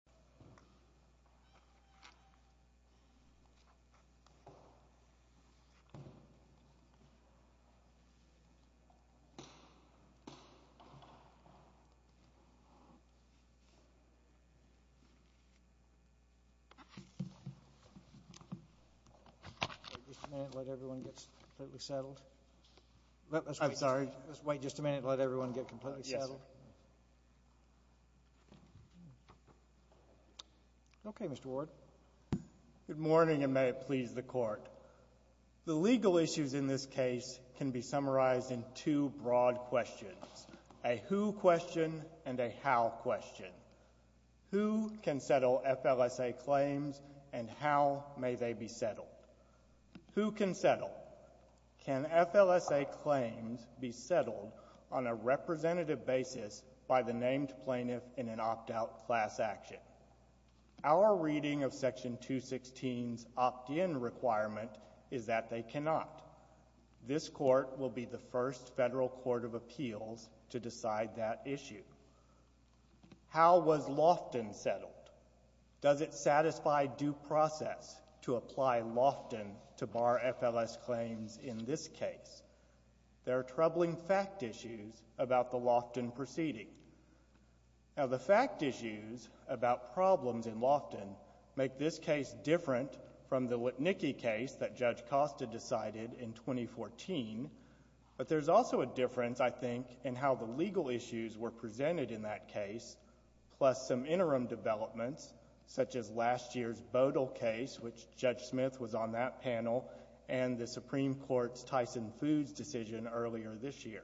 not the case. The legal issues in this case can be summarized in two broad questions, a who question and a how question. Who can settle FLSA claims and how may they be settled? Who can settle? Can FLSA claims be settled on a representative basis by the named plaintiff in an opt-out class action? Our reading of section 216's opt-in requirement is that they cannot. This court will be the first federal court of appeals to decide that issue. How was Lofton settled? Does it satisfy due process to apply Lofton to bar FLS claims in this case? There are troubling fact issues about the Lofton proceeding. Now, the fact issues about problems in Lofton make this case different from the Witnicki case that Judge Costa decided in 2014, but there's also a difference, I think, in how the legal issues were presented in that case, plus some interim developments, such as last year's Bodle case, which Judge Smith was on that panel, and the Supreme Court's Tyson Foods decision earlier this year.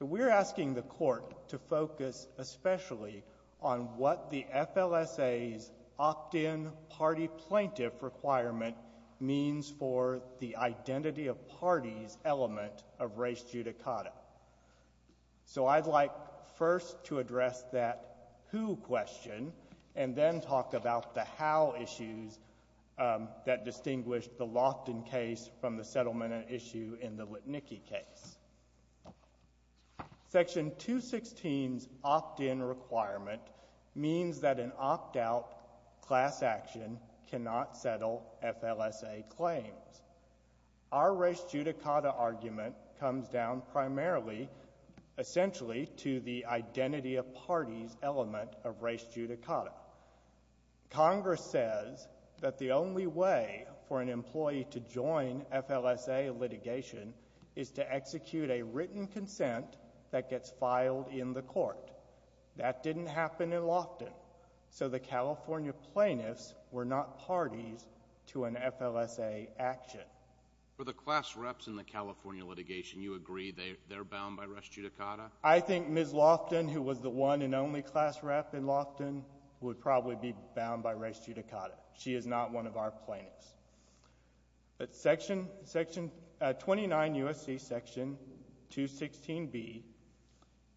We're asking the court to focus especially on what the FLSA's opt-in party plaintiff requirement means for the identity of parties element of res judicata. So I'd like first to address that who question and then talk about the how issues that distinguished the Lofton case from the settlement issue in the Witnicki case. Section 216's opt-in requirement means that an opt-out class action cannot settle FLSA claims. Our res judicata argument comes down primarily, essentially, to the identity of parties element of res judicata. Congress says that the only way for an employee to join FLSA litigation is to execute a written consent that gets filed in the court. That didn't happen in Lofton, so the California plaintiffs were not parties to an FLSA action. For the class reps in the California litigation, you agree they're bound by res judicata? I think Ms. Lofton, who was the one and only class rep in Lofton, would probably be bound by res judicata. She is not one of our plaintiffs. But 29 U.S.C. section 216B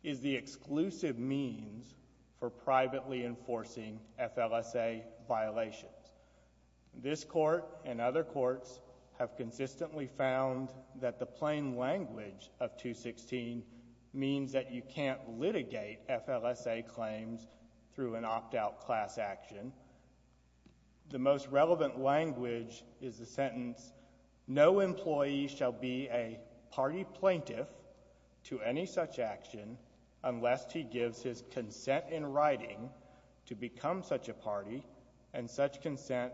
is the exclusive means for privately enforcing FLSA violations. This court and other courts have consistently found that the plain language of 216 means that you can't litigate FLSA claims through an opt-out class action. The most relevant language is the sentence, no employee shall be a party plaintiff to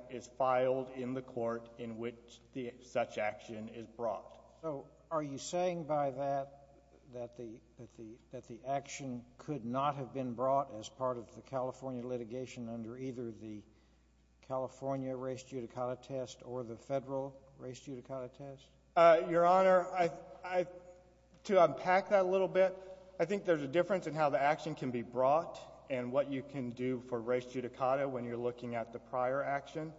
is filed in the court in which such action is brought. Are you saying by that that the action could not have been brought as part of the California litigation under either the California res judicata test or the federal res judicata test? Your Honor, to unpack that a little bit, I think there's a difference in how the action can be brought and what you can do for res judicata when you're looking at the prior action.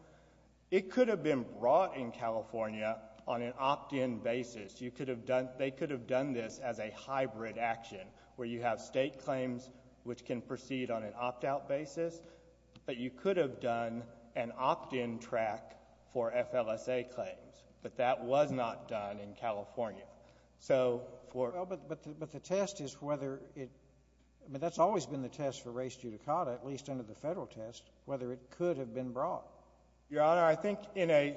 It could have been brought in California on an opt-in basis. You could have done, they could have done this as a hybrid action, where you have state claims which can proceed on an opt-out basis, but you could have done an opt-in track for that. Well, but the test is whether it, I mean, that's always been the test for res judicata, at least under the federal test, whether it could have been brought. Your Honor, I think in a,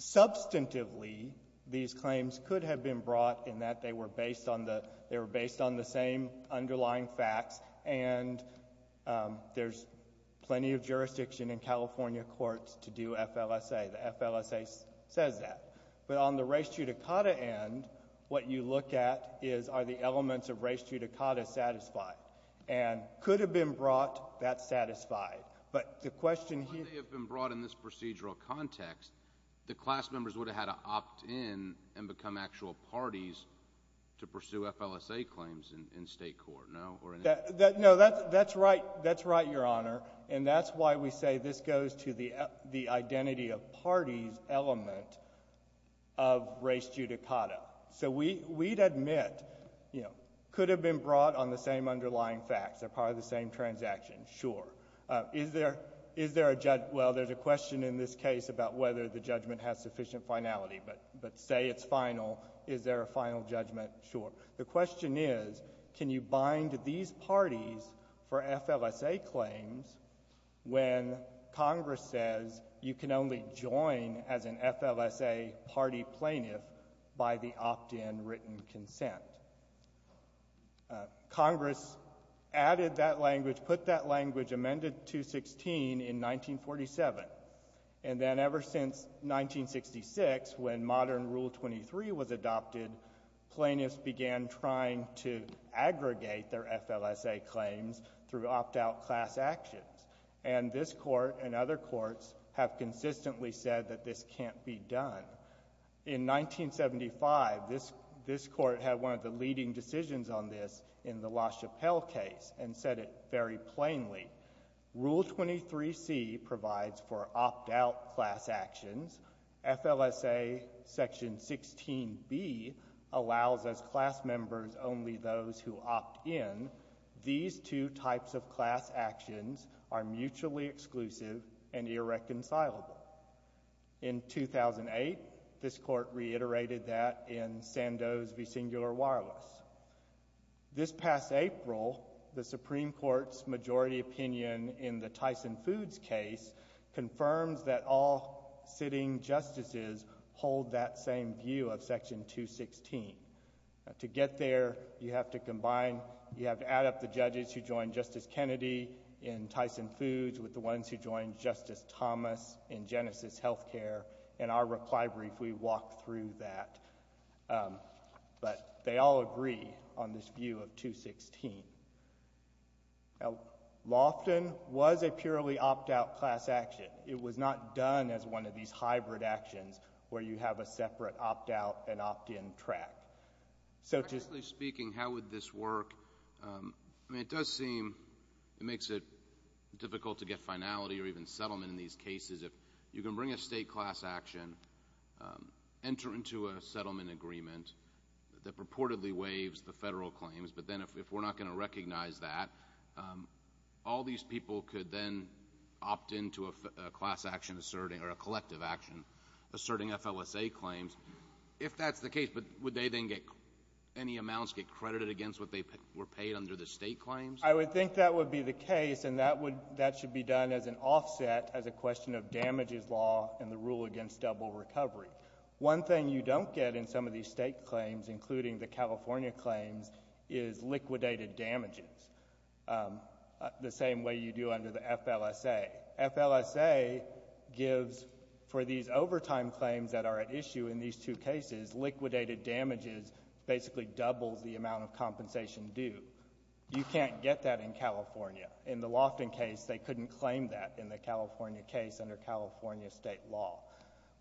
substantively, these claims could have been brought in that they were based on the same underlying facts and there's plenty of jurisdiction in California courts to do FLSA. The FLSA says that. But on the res judicata end, what you look at is, are the elements of res judicata satisfied? And could have been brought, that's satisfied. But the question here... If they had been brought in this procedural context, the class members would have had to opt in and become actual parties to pursue FLSA claims in state court, no, or... No, that's right, that's right, Your Honor, and that's why we say this goes to the identity of parties element of res judicata. So we'd admit, you know, could have been brought on the same underlying facts, they're part of the same transaction, sure. Is there a, well, there's a question in this case about whether the judgment has sufficient finality, but say it's final, is there a final judgment? Sure. The question is, can you bind these parties for FLSA claims when Congress says you can only join as an FLSA party plaintiff by the opt-in written consent? Congress added that language, put that language, amended 216 in 1947. And then ever since 1966, when modern Rule 23 was adopted, plaintiffs began trying to aggregate their FLSA claims through opt-out class actions. And this Court and other courts have consistently said that this can't be done. In 1975, this Court had one of the leading decisions on this in the La Chapelle case and said it very plainly. Rule 23C provides for opt-out class actions, FLSA section 16B allows as class members only those who opt in. These two types of class actions are mutually exclusive and irreconcilable. In 2008, this Court reiterated that in Sandoz v. Singular Wireless. This past April, the Supreme Court's majority opinion in the Tyson Foods case confirms that all sitting justices hold that same view of section 216. To get there, you have to combine, you have to add up the judges who joined Justice Kennedy in Tyson Foods with the ones who joined Justice Thomas in Genesis Healthcare. In our reply brief, we walk through that. But they all agree on this view of 216. Lofton was a purely opt-out class action. It was not done as one of these hybrid actions where you have a separate opt-out and opt-in contract. So just— Justice Kennedy, speaking, how would this work? I mean, it does seem it makes it difficult to get finality or even settlement in these cases. If you can bring a state class action, enter into a settlement agreement that purportedly waives the federal claims, but then if we're not going to recognize that, all these people could then opt into a class action asserting, or a collective action asserting FLSA claims. If that's the case, but would they then get, any amounts get credited against what they were paid under the state claims? I would think that would be the case, and that would, that should be done as an offset as a question of damages law and the rule against double recovery. One thing you don't get in some of these state claims, including the California claims, is liquidated damages, the same way you do under the FLSA. FLSA gives, for these overtime claims that are at issue in these two cases, liquidated damages basically doubles the amount of compensation due. You can't get that in California. In the Lofton case, they couldn't claim that in the California case under California state law.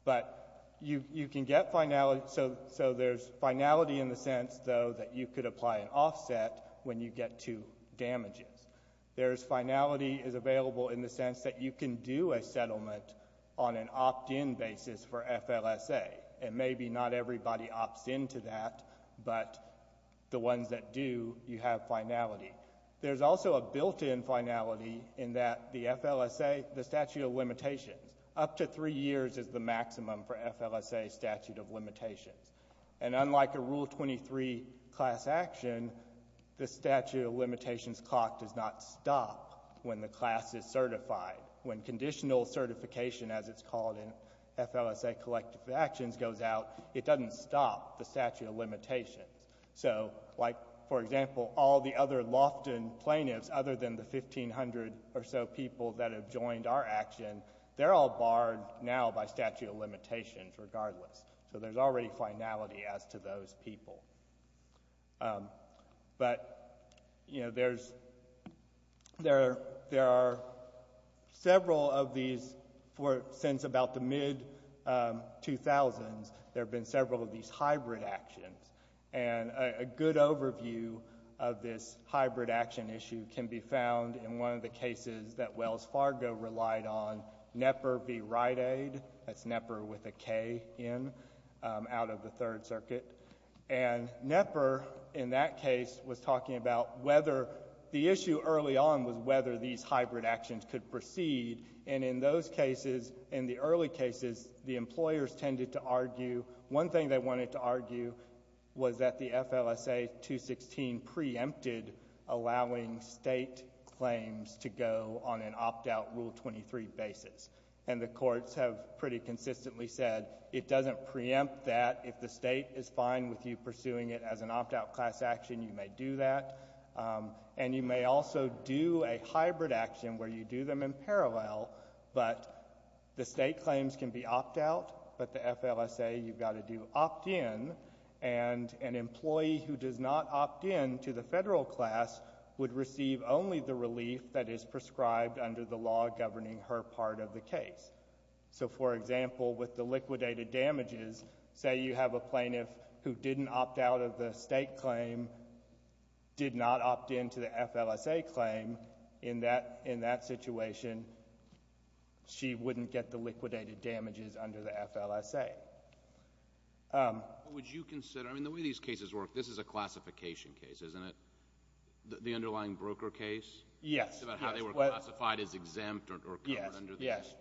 But you can get finality, so there's finality in the sense, though, that you could apply an offset when you get to damages. There's finality is available in the sense that you can do a settlement on an opt-in basis for FLSA, and maybe not everybody opts into that, but the ones that do, you have finality. There's also a built-in finality in that the FLSA, the statute of limitations, up to three years is the maximum for FLSA statute of limitations. And unlike a Rule 23 class action, the statute of limitations clock does not stop when the class is certified. When conditional certification, as it's called in FLSA collective actions, goes out, it doesn't stop the statute of limitations. So like, for example, all the other Lofton plaintiffs, other than the 1,500 or so people that have joined our action, they're all barred now by statute of limitations regardless. So there's already finality as to those people. But there's, there are several of these, since about the mid-2000s, there have been several of these hybrid actions. And a good overview of this hybrid action issue can be found in one of the cases that was done out of the Third Circuit. And Knepper, in that case, was talking about whether, the issue early on was whether these hybrid actions could proceed, and in those cases, in the early cases, the employers tended to argue, one thing they wanted to argue was that the FLSA 216 preempted allowing state claims to go on an opt-out Rule 23 basis. And the courts have pretty consistently said, it doesn't preempt that. If the state is fine with you pursuing it as an opt-out class action, you may do that. And you may also do a hybrid action where you do them in parallel, but the state claims can be opt-out, but the FLSA, you've got to do opt-in. And an employee who does not opt-in to the federal class would receive only the relief that is prescribed under the law governing her part of the case. So for example, with the liquidated damages, say you have a plaintiff who didn't opt-out of the state claim, did not opt-in to the FLSA claim, in that situation, she wouldn't get the liquidated damages under the FLSA. Would you consider, I mean, the way these cases work, this is a classification case, isn't it? The underlying broker case? Yes. About how they were classified as exempt or covered under the case.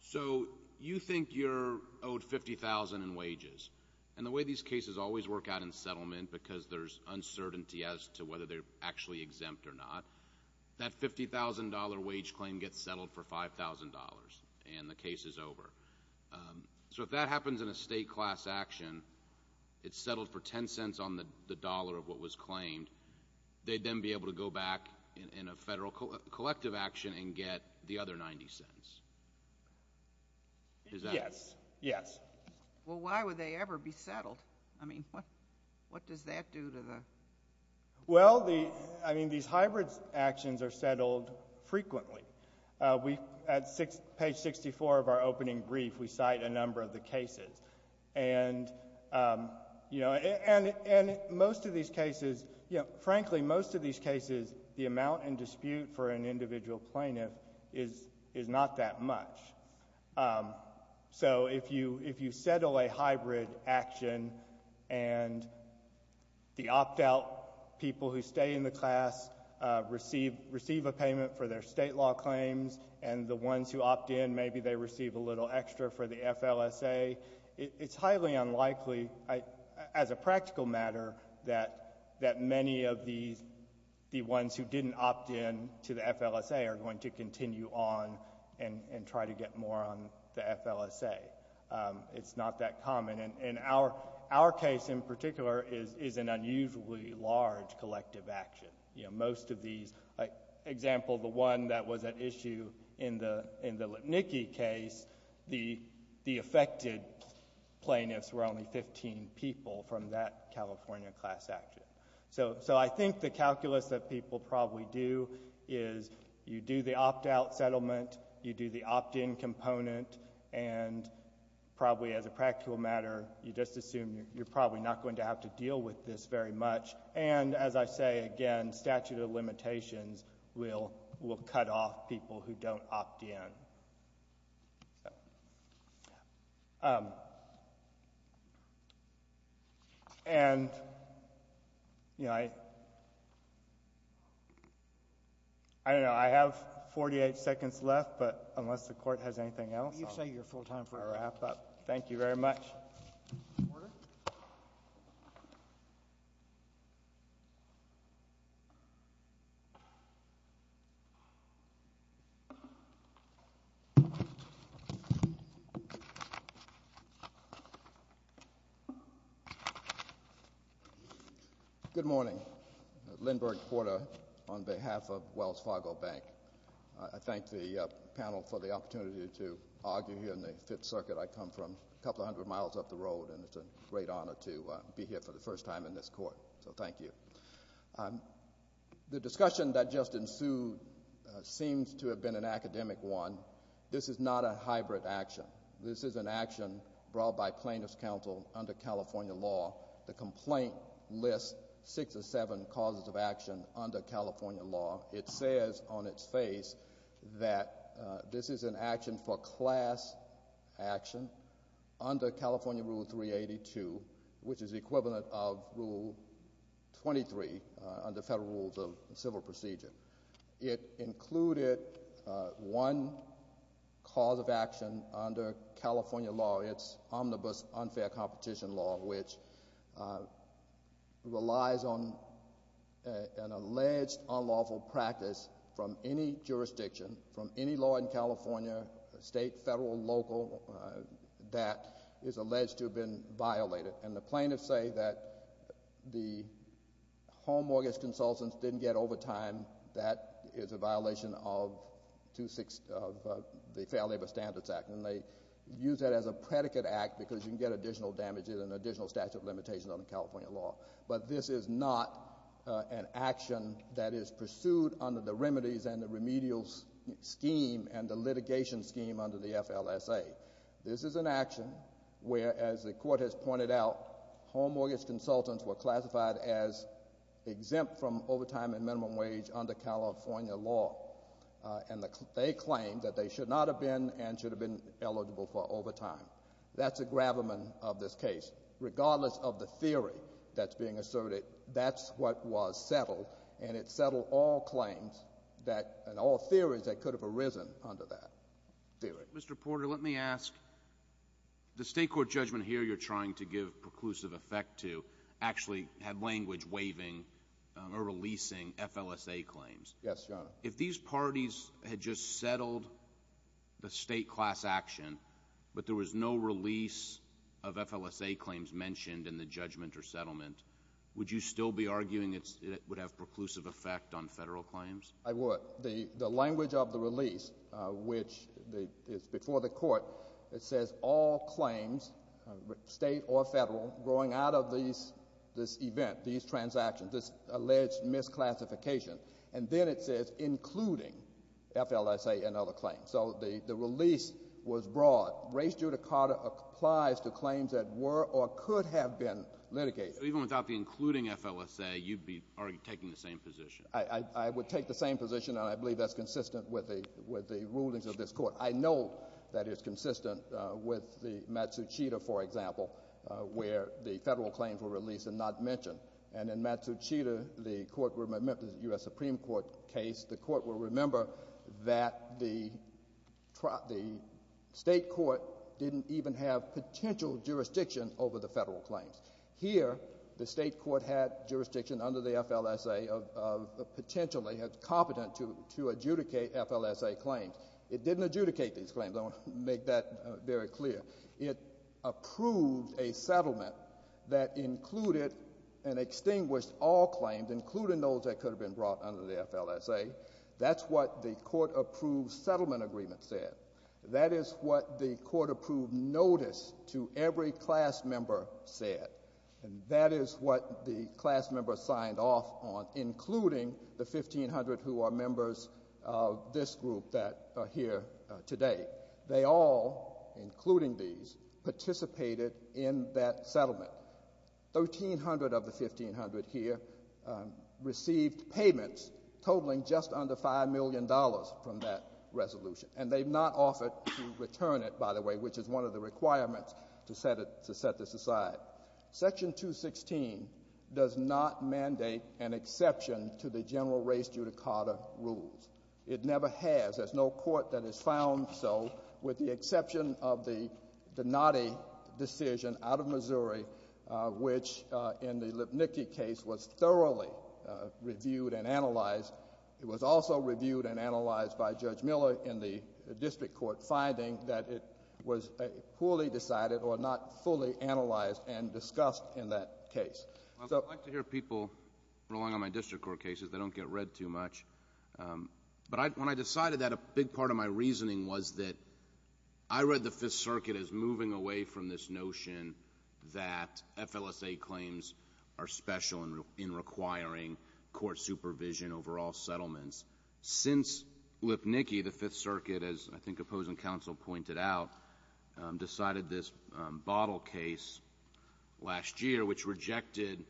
So you think you're owed $50,000 in wages. And the way these cases always work out in settlement, because there's uncertainty as to whether they're actually exempt or not, that $50,000 wage claim gets settled for $5,000, and the case is over. So if that happens in a state class action, it's settled for 10 cents on the dollar of what was claimed, they'd then be able to go back in a federal collective action and get the other 90 cents. Is that it? Yes. Yes. Well, why would they ever be settled? I mean, what does that do to the? Well, I mean, these hybrid actions are settled frequently. At page 64 of our opening brief, we cite a number of the cases. And, you know, and most of these cases, you know, frankly, most of these cases, the amount in dispute for an individual plaintiff is not that much. So if you settle a hybrid action and the opt-out people who stay in the class receive a payment for their state law claims, and the ones who opt in, maybe they receive a little extra for the FLSA, it's highly unlikely, as a practical matter, that many of the ones who didn't opt in to the FLSA are going to continue on and try to get more on the FLSA. It's not that common. And our case, in particular, is an unusually large collective action. You know, most of these, like, example, the one that was at issue in the Lipnicki case, the affected plaintiffs were only 15 people from that California class action. So I think the calculus that people probably do is you do the opt-out settlement, you do the opt-in component, and probably, as a practical matter, you just assume you're probably not going to have to deal with this very much. And as I say again, statute of limitations will cut off people who don't opt in. And you know, I don't know, I have 48 seconds left, but unless the Court has anything else, I'll wrap up. You say you're full time forever. Thank you very much. Order. Good morning, Lindbergh Porter on behalf of Wells Fargo Bank. I thank the panel for the opportunity to argue here in the Fifth Circuit. I come from a couple hundred miles up the road, and it's a great honor to be here for the first time in this Court. So thank you. The discussion that just ensued seems to have been an academic one. This is not a hybrid action. This is an action brought by plaintiffs' counsel under California law. The complaint lists six or seven causes of action under California law. It says on its face that this is an action for class action under California Rule 382, which is the equivalent of Rule 23 under federal rules of civil procedure. It included one cause of action under California law. It's omnibus unfair competition law, which relies on an alleged unlawful practice from any jurisdiction, from any law in California, state, federal, local, that is alleged to have been violated. And the plaintiffs say that the home mortgage consultants didn't get overtime. That is a violation of the Fair Labor Standards Act. And they use that as a predicate act because you can get additional damages and additional statute of limitations under California law. But this is not an action that is pursued under the remedies and the remedial scheme and the litigation scheme under the FLSA. This is an action where, as the Court has pointed out, home mortgage consultants were classified as exempt from overtime and minimum wage under California law. And they claim that they should not have been and should have been eligible for overtime. That's a gravamen of this case. Regardless of the theory that's being asserted, that's what was settled. And it settled all claims that, and all theories that could have arisen under that theory. Mr. Porter, let me ask, the state court judgment here you're trying to give preclusive effect to actually had language waiving or releasing FLSA claims. Yes, Your Honor. If these parties had just settled the state class action, but there was no release of FLSA claims mentioned in the judgment or settlement, would you still be arguing it would have preclusive effect on federal claims? I would. The language of the release, which is before the Court, it says all claims, state or federal, growing out of these, this event, these transactions, this alleged misclassification. And then it says, including FLSA and other claims. So the release was broad. Race judicata applies to claims that were or could have been litigated. So even without the including FLSA, you'd be taking the same position? I would take the same position, and I believe that's consistent with the rulings of this I know that it's consistent with the Matsushita, for example, where the federal claims were released and not mentioned. And in Matsushita, the court, the U.S. Supreme Court case, the court will remember that the state court didn't even have potential jurisdiction over the federal claims. Here the state court had jurisdiction under the FLSA of potentially, had the competence to adjudicate FLSA claims. It didn't adjudicate these claims, I want to make that very clear. It approved a settlement that included and extinguished all claims, including those that could have been brought under the FLSA. That's what the court-approved settlement agreement said. That is what the court-approved notice to every class member said. And that is what the class members signed off on, including the 1,500 who are members of this group that are here today. They all, including these, participated in that settlement. 1,300 of the 1,500 here received payments totaling just under $5 million from that resolution. And they've not offered to return it, by the way, which is one of the requirements to set this aside. Section 216 does not mandate an exception to the general race judicata rules. It never has. There's no court that has found so, with the exception of the Donati decision out of Missouri, which in the Lipnicki case was thoroughly reviewed and analyzed. It was also reviewed and analyzed by Judge Miller in the district court, finding that it was poorly decided or not fully analyzed and discussed in that case. I'd like to hear people rolling on my district court cases. They don't get read too much. But when I decided that, a big part of my reasoning was that I read the Fifth Circuit as moving away from this notion that FLSA claims are special in requiring court supervision over all settlements. Since Lipnicki, the Fifth Circuit, as I think opposing counsel pointed out, decided this bottle case last year, which rejected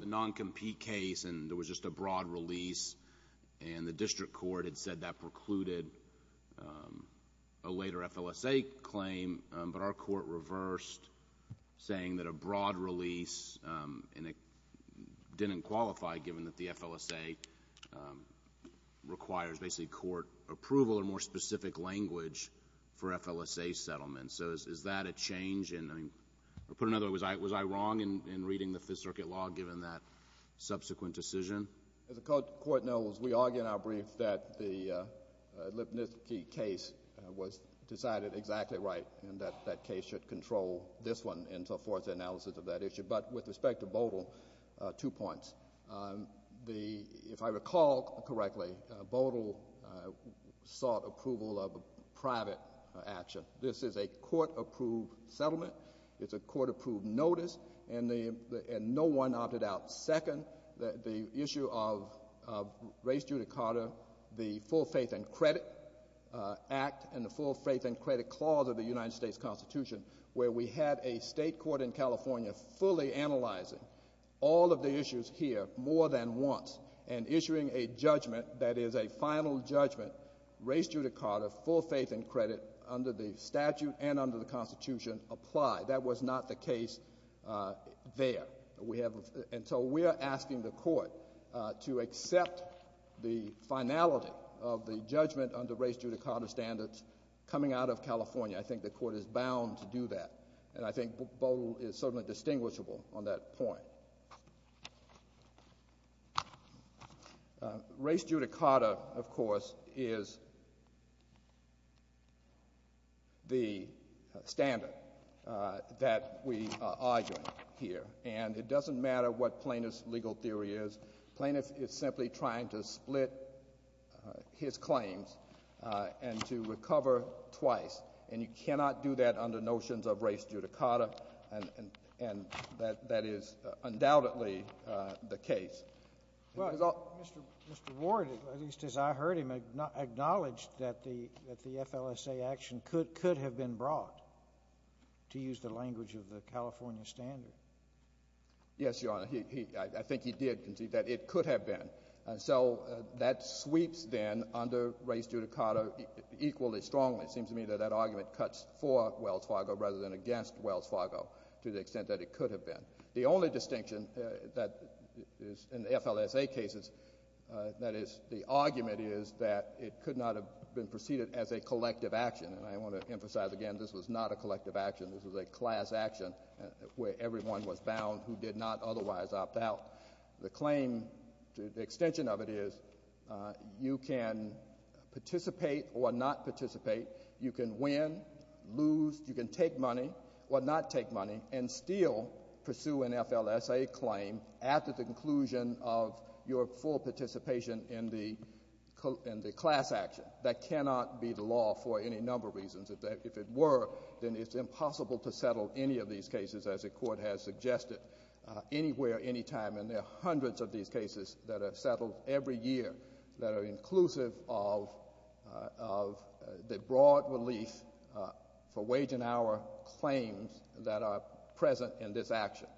the non-compete case and there was just a broad release and the district court had said that precluded a later FLSA claim, but our court reversed saying that a broad release didn't qualify given that the FLSA requires basically court approval and more specific language for FLSA settlements. So is that a change? I mean, put another way, was I wrong in reading the Fifth Circuit law given that subsequent decision? As the court knows, we argue in our brief that the Lipnicki case was decided exactly right and that that case should control this one and so forth, the analysis of that issue. But with respect to Bodle, two points. If I recall correctly, Bodle sought approval of private action. This is a court-approved settlement, it's a court-approved notice, and no one opted out. Second, the issue of race judicata, the Full Faith and Credit Act and the Full Faith and Credit Clause of the United States Constitution, where we had a state court in California fully analyzing all of the issues here more than once and issuing a judgment that is a final judgment, race judicata, full faith and credit under the statute and under the Constitution apply. That was not the case there. So we are asking the court to accept the finality of the judgment under race judicata standards coming out of California. I think the court is bound to do that and I think Bodle is certainly distinguishable on that point. Race judicata, of course, is the standard that we are arguing here and it doesn't matter what plaintiff's legal theory is. Plaintiff is simply trying to split his claims and to recover twice and you cannot do that under notions of race judicata and that is undoubtedly the case. Well, Mr. Ward, at least as I heard him, acknowledged that the FLSA action could have been brought, to use the language of the California standard. Yes, Your Honor, I think he did concede that it could have been. So that sweeps then under race judicata equally strongly. It seems to me that that argument cuts for Wells Fargo rather than against Wells Fargo to the extent that it could have been. The only distinction that is in the FLSA cases, that is the argument is that it could not have been preceded as a collective action and I want to emphasize again, this was not a collective action. This was a class action where everyone was bound who did not otherwise opt out. The claim, the extension of it is you can participate or not participate. You can win, lose, you can take money or not take money and still pursue an FLSA claim after the conclusion of your full participation in the class action. That cannot be the law for any number of reasons. If it were, then it's impossible to settle any of these cases as the Court has suggested anywhere, anytime and there are hundreds of these cases that are settled every year that are inclusive of the broad relief for wage and hour claims that are present in this action.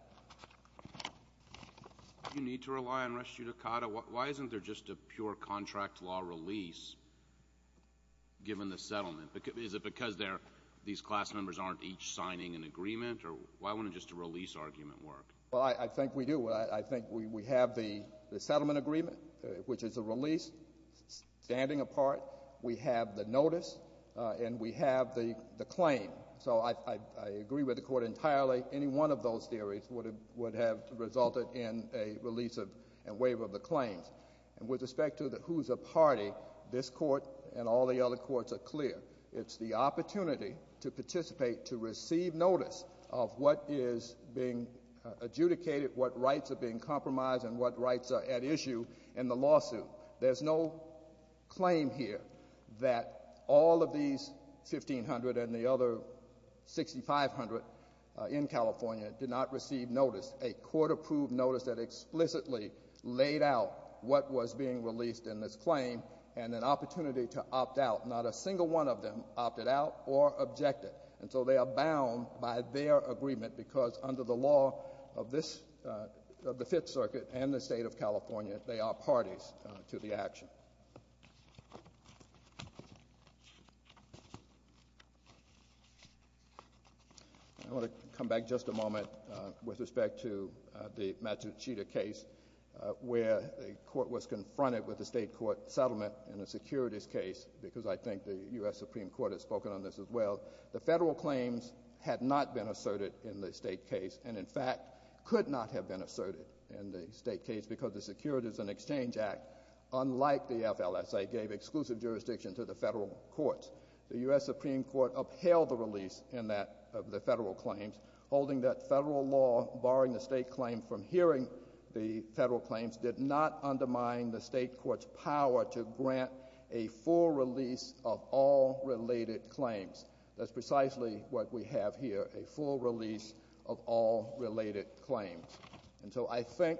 Do you need to rely on race judicata? Why isn't there just a pure contract law release given the settlement? Is it because these class members aren't each signing an agreement or why wouldn't just a release argument work? Well, I think we do. I think we have the settlement agreement which is a release standing apart. We have the notice and we have the claim. So I agree with the Court entirely. Any one of those theories would have resulted in a release and waive of the claims and with respect to the who's a party, this Court and all the other courts are clear. It's the opportunity to participate, to receive notice of what is being adjudicated, what rights are being compromised and what rights are at issue in the lawsuit. There's no claim here that all of these 1,500 and the other 6,500 in California did not receive notice. A Court approved notice that explicitly laid out what was being released in this claim and an opportunity to opt out. Not a single one of them opted out or objected and so they are bound by their agreement because under the law of this, of the Fifth Circuit and the State of California, they are parties to the action. I want to come back just a moment with respect to the Matuchita case where the Court was not able to release the government in a securities case because I think the U.S. Supreme Court has spoken on this as well. The federal claims had not been asserted in the state case and in fact could not have been asserted in the state case because the Securities and Exchange Act, unlike the FLSA, gave exclusive jurisdiction to the federal courts. The U.S. Supreme Court upheld the release of the federal claims, holding that federal law, barring the state claim from hearing the federal claims, did not undermine the grant, a full release of all related claims. That's precisely what we have here, a full release of all related claims. And so I think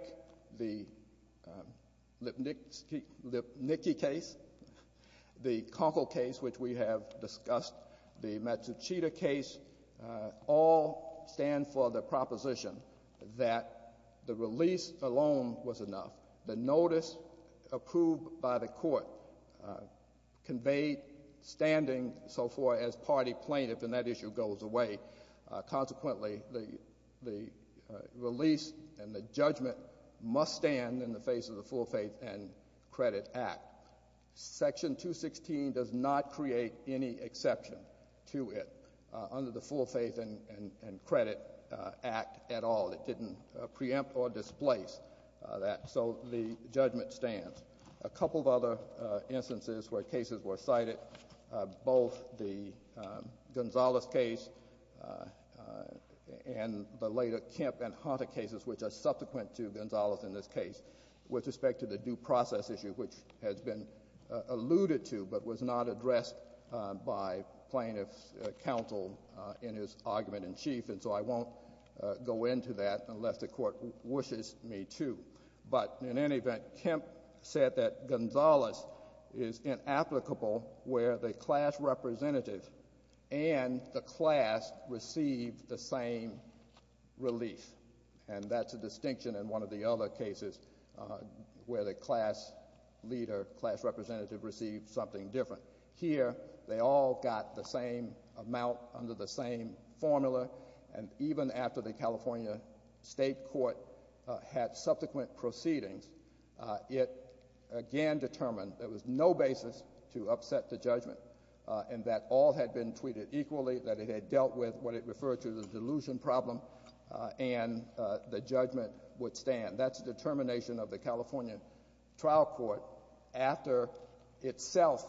the Lipnicki case, the Conkle case, which we have discussed, the Matsuchita case, all stand for the proposition that the release alone was enough. The notice approved by the court conveyed standing so far as party plaintiff, and that issue goes away. Consequently, the release and the judgment must stand in the face of the Full Faith and Credit Act. Section 216 does not create any exception to it under the Full Faith and Credit Act at all. It didn't preempt or displace that. So the judgment stands. A couple of other instances where cases were cited, both the Gonzales case and the later Kemp and Hunter cases, which are subsequent to Gonzales in this case, with respect to the due process issue, which has been alluded to but was not addressed by plaintiff's counsel in his argument in chief. And so I won't go into that unless the court wishes me to. But in any event, Kemp said that Gonzales is inapplicable where the class representative and the class receive the same relief. And that's a distinction in one of the other cases where the class leader, class representative received something different. Here, they all got the same amount under the same formula. And even after the California State Court had subsequent proceedings, it again determined there was no basis to upset the judgment, and that all had been treated equally, that it had dealt with what it referred to as a delusion problem, and the judgment would stand. That's the determination of the California Trial Court after itself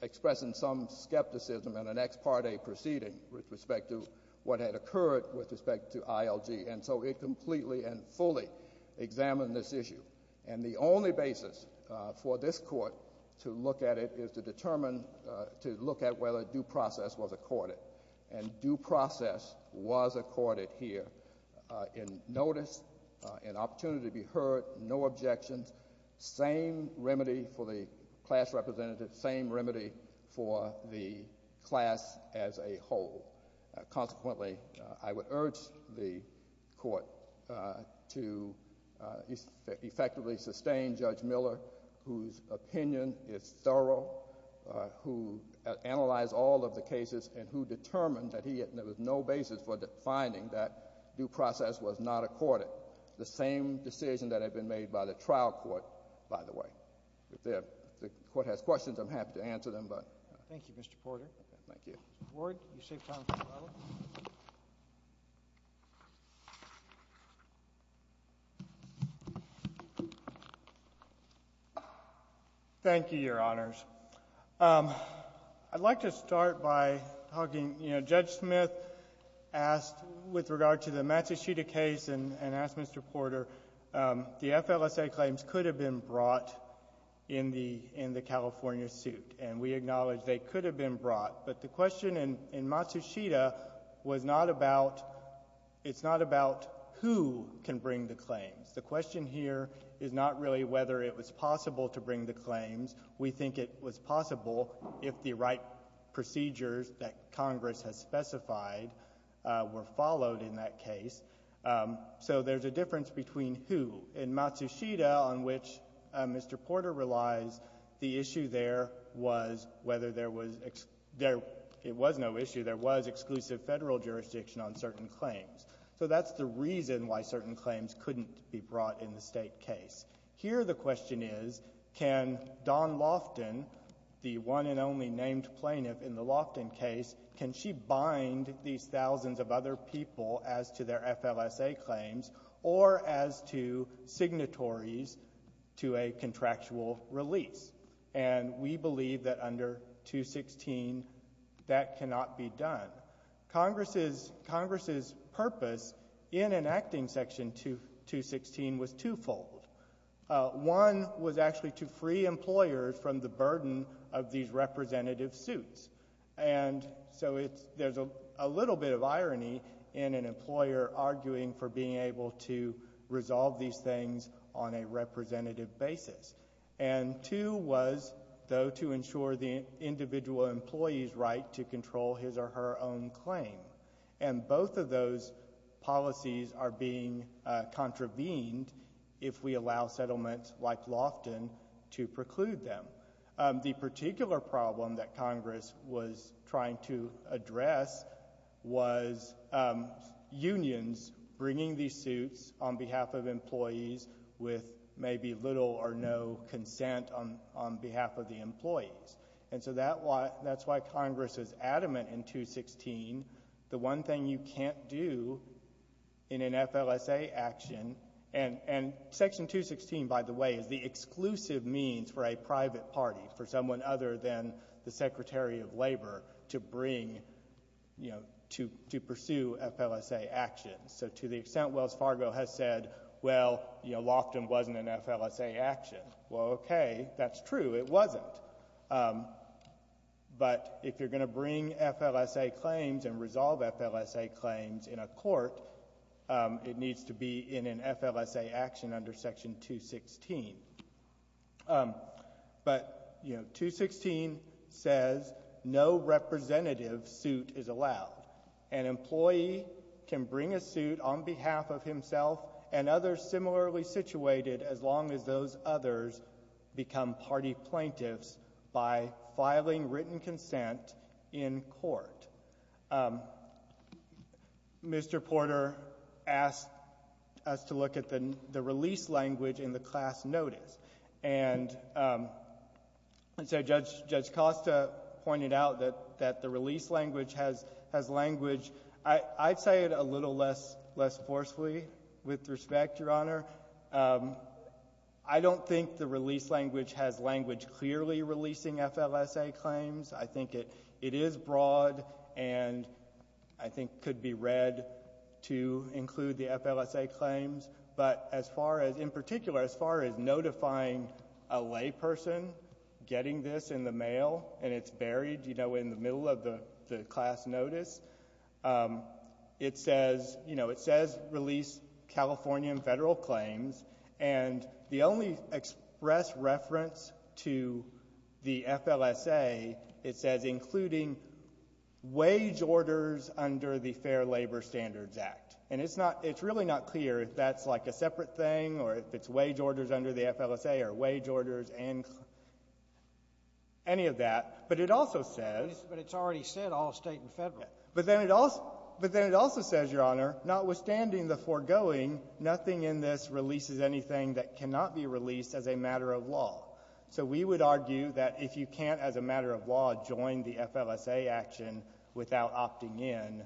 expressing some skepticism in an ex parte proceeding with respect to what had occurred with respect to ILG. And so it completely and fully examined this issue. And the only basis for this court to look at it is to determine, to look at whether due process was accorded. And due process was accorded here in notice, in opportunity to be heard, no objections, same remedy for the class representative, same remedy for the class as a whole. Consequently, I would urge the court to effectively sustain Judge Miller, whose opinion is thorough, who analyzed all of the cases, and who determined that there was no basis for finding that due process was not accorded. The same decision that had been made by the trial court, by the way. If the court has questions, I'm happy to answer them, but. Thank you, Mr. Porter. Thank you. Mr. Ward, you saved time for another one. Thank you, Your Honors. I'd like to start by talking, you know, Judge Smith asked with regard to the Matsushita case and asked Mr. Porter, the FLSA claims could have been brought in the California suit. And we acknowledge they could have been brought. But the question in Matsushita was not about, it's not about who can bring the claims. The question here is not really whether it was possible to bring the claims. We think it was possible if the right procedures that Congress has specified were followed in that case. So there's a difference between who. In Matsushita, on which Mr. Porter relies, the issue there was whether there was, there, it was no issue. There was exclusive Federal jurisdiction on certain claims. So that's the reason why certain claims couldn't be brought in the State case. Here the question is, can Dawn Loftin, the one and only named plaintiff in the Loftin case, can she bind these thousands of other people as to their FLSA claims or as to signatories to a contractual release? And we believe that under 216, that cannot be done. Congress's, Congress's purpose in enacting Section 216 was twofold. One was actually to free employers from the burden of these representative suits. And so it's, there's a little bit of irony in an employer arguing for being able to resolve these things on a representative basis. And two was, though, to ensure the individual employee's right to control his or her own claim. And both of those policies are being contravened if we allow settlements like Loftin to preclude them. The particular problem that Congress was trying to address was unions bringing these suits on behalf of employees with maybe little or no consent on behalf of the employees. And so that's why Congress is adamant in 216, the one thing you can't do in an FLSA action, and Section 216, by the way, is the exclusive means for a private party, for someone other than the Secretary of Labor to bring, you know, to pursue FLSA actions. So to the extent Wells Fargo has said, well, you know, Loftin wasn't an FLSA action, well, okay, that's true. It wasn't. But if you're going to bring FLSA claims and resolve FLSA claims in a court, it needs to be in an FLSA action under Section 216. But, you know, 216 says no representative suit is allowed. An employee can bring a suit on behalf of himself and others similarly situated as long as those others become party plaintiffs by filing written consent in court. Mr. Porter asked us to look at the release language in the class notice. And so Judge Costa pointed out that the release language has language, I'd say it a little less forcefully with respect, Your Honor. I don't think the release language has language clearly releasing FLSA claims. I think it is broad and I think could be read to include the FLSA claims. But as far as, in particular, as far as notifying a layperson getting this in the mail and it's not clear if that's like a separate thing or if it's wage orders under the FLSA or wage orders and any of that, but it also says — But it's already said all State and Federal. But then it also says, Your Honor, notwithstanding the foregoing, nothing in this releases anything that cannot be released as a matter of law. So we would argue that if you can't, as a matter of law, join the FLSA action without opting in,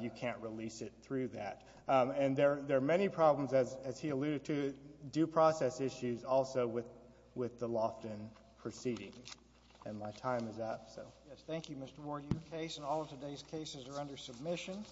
you can't release it through that. And there are many problems, as he alluded to, due process issues also with the Lofton proceedings. And my time is up, so. Thank you, Mr. Moore. Your case and all of today's cases are under submission.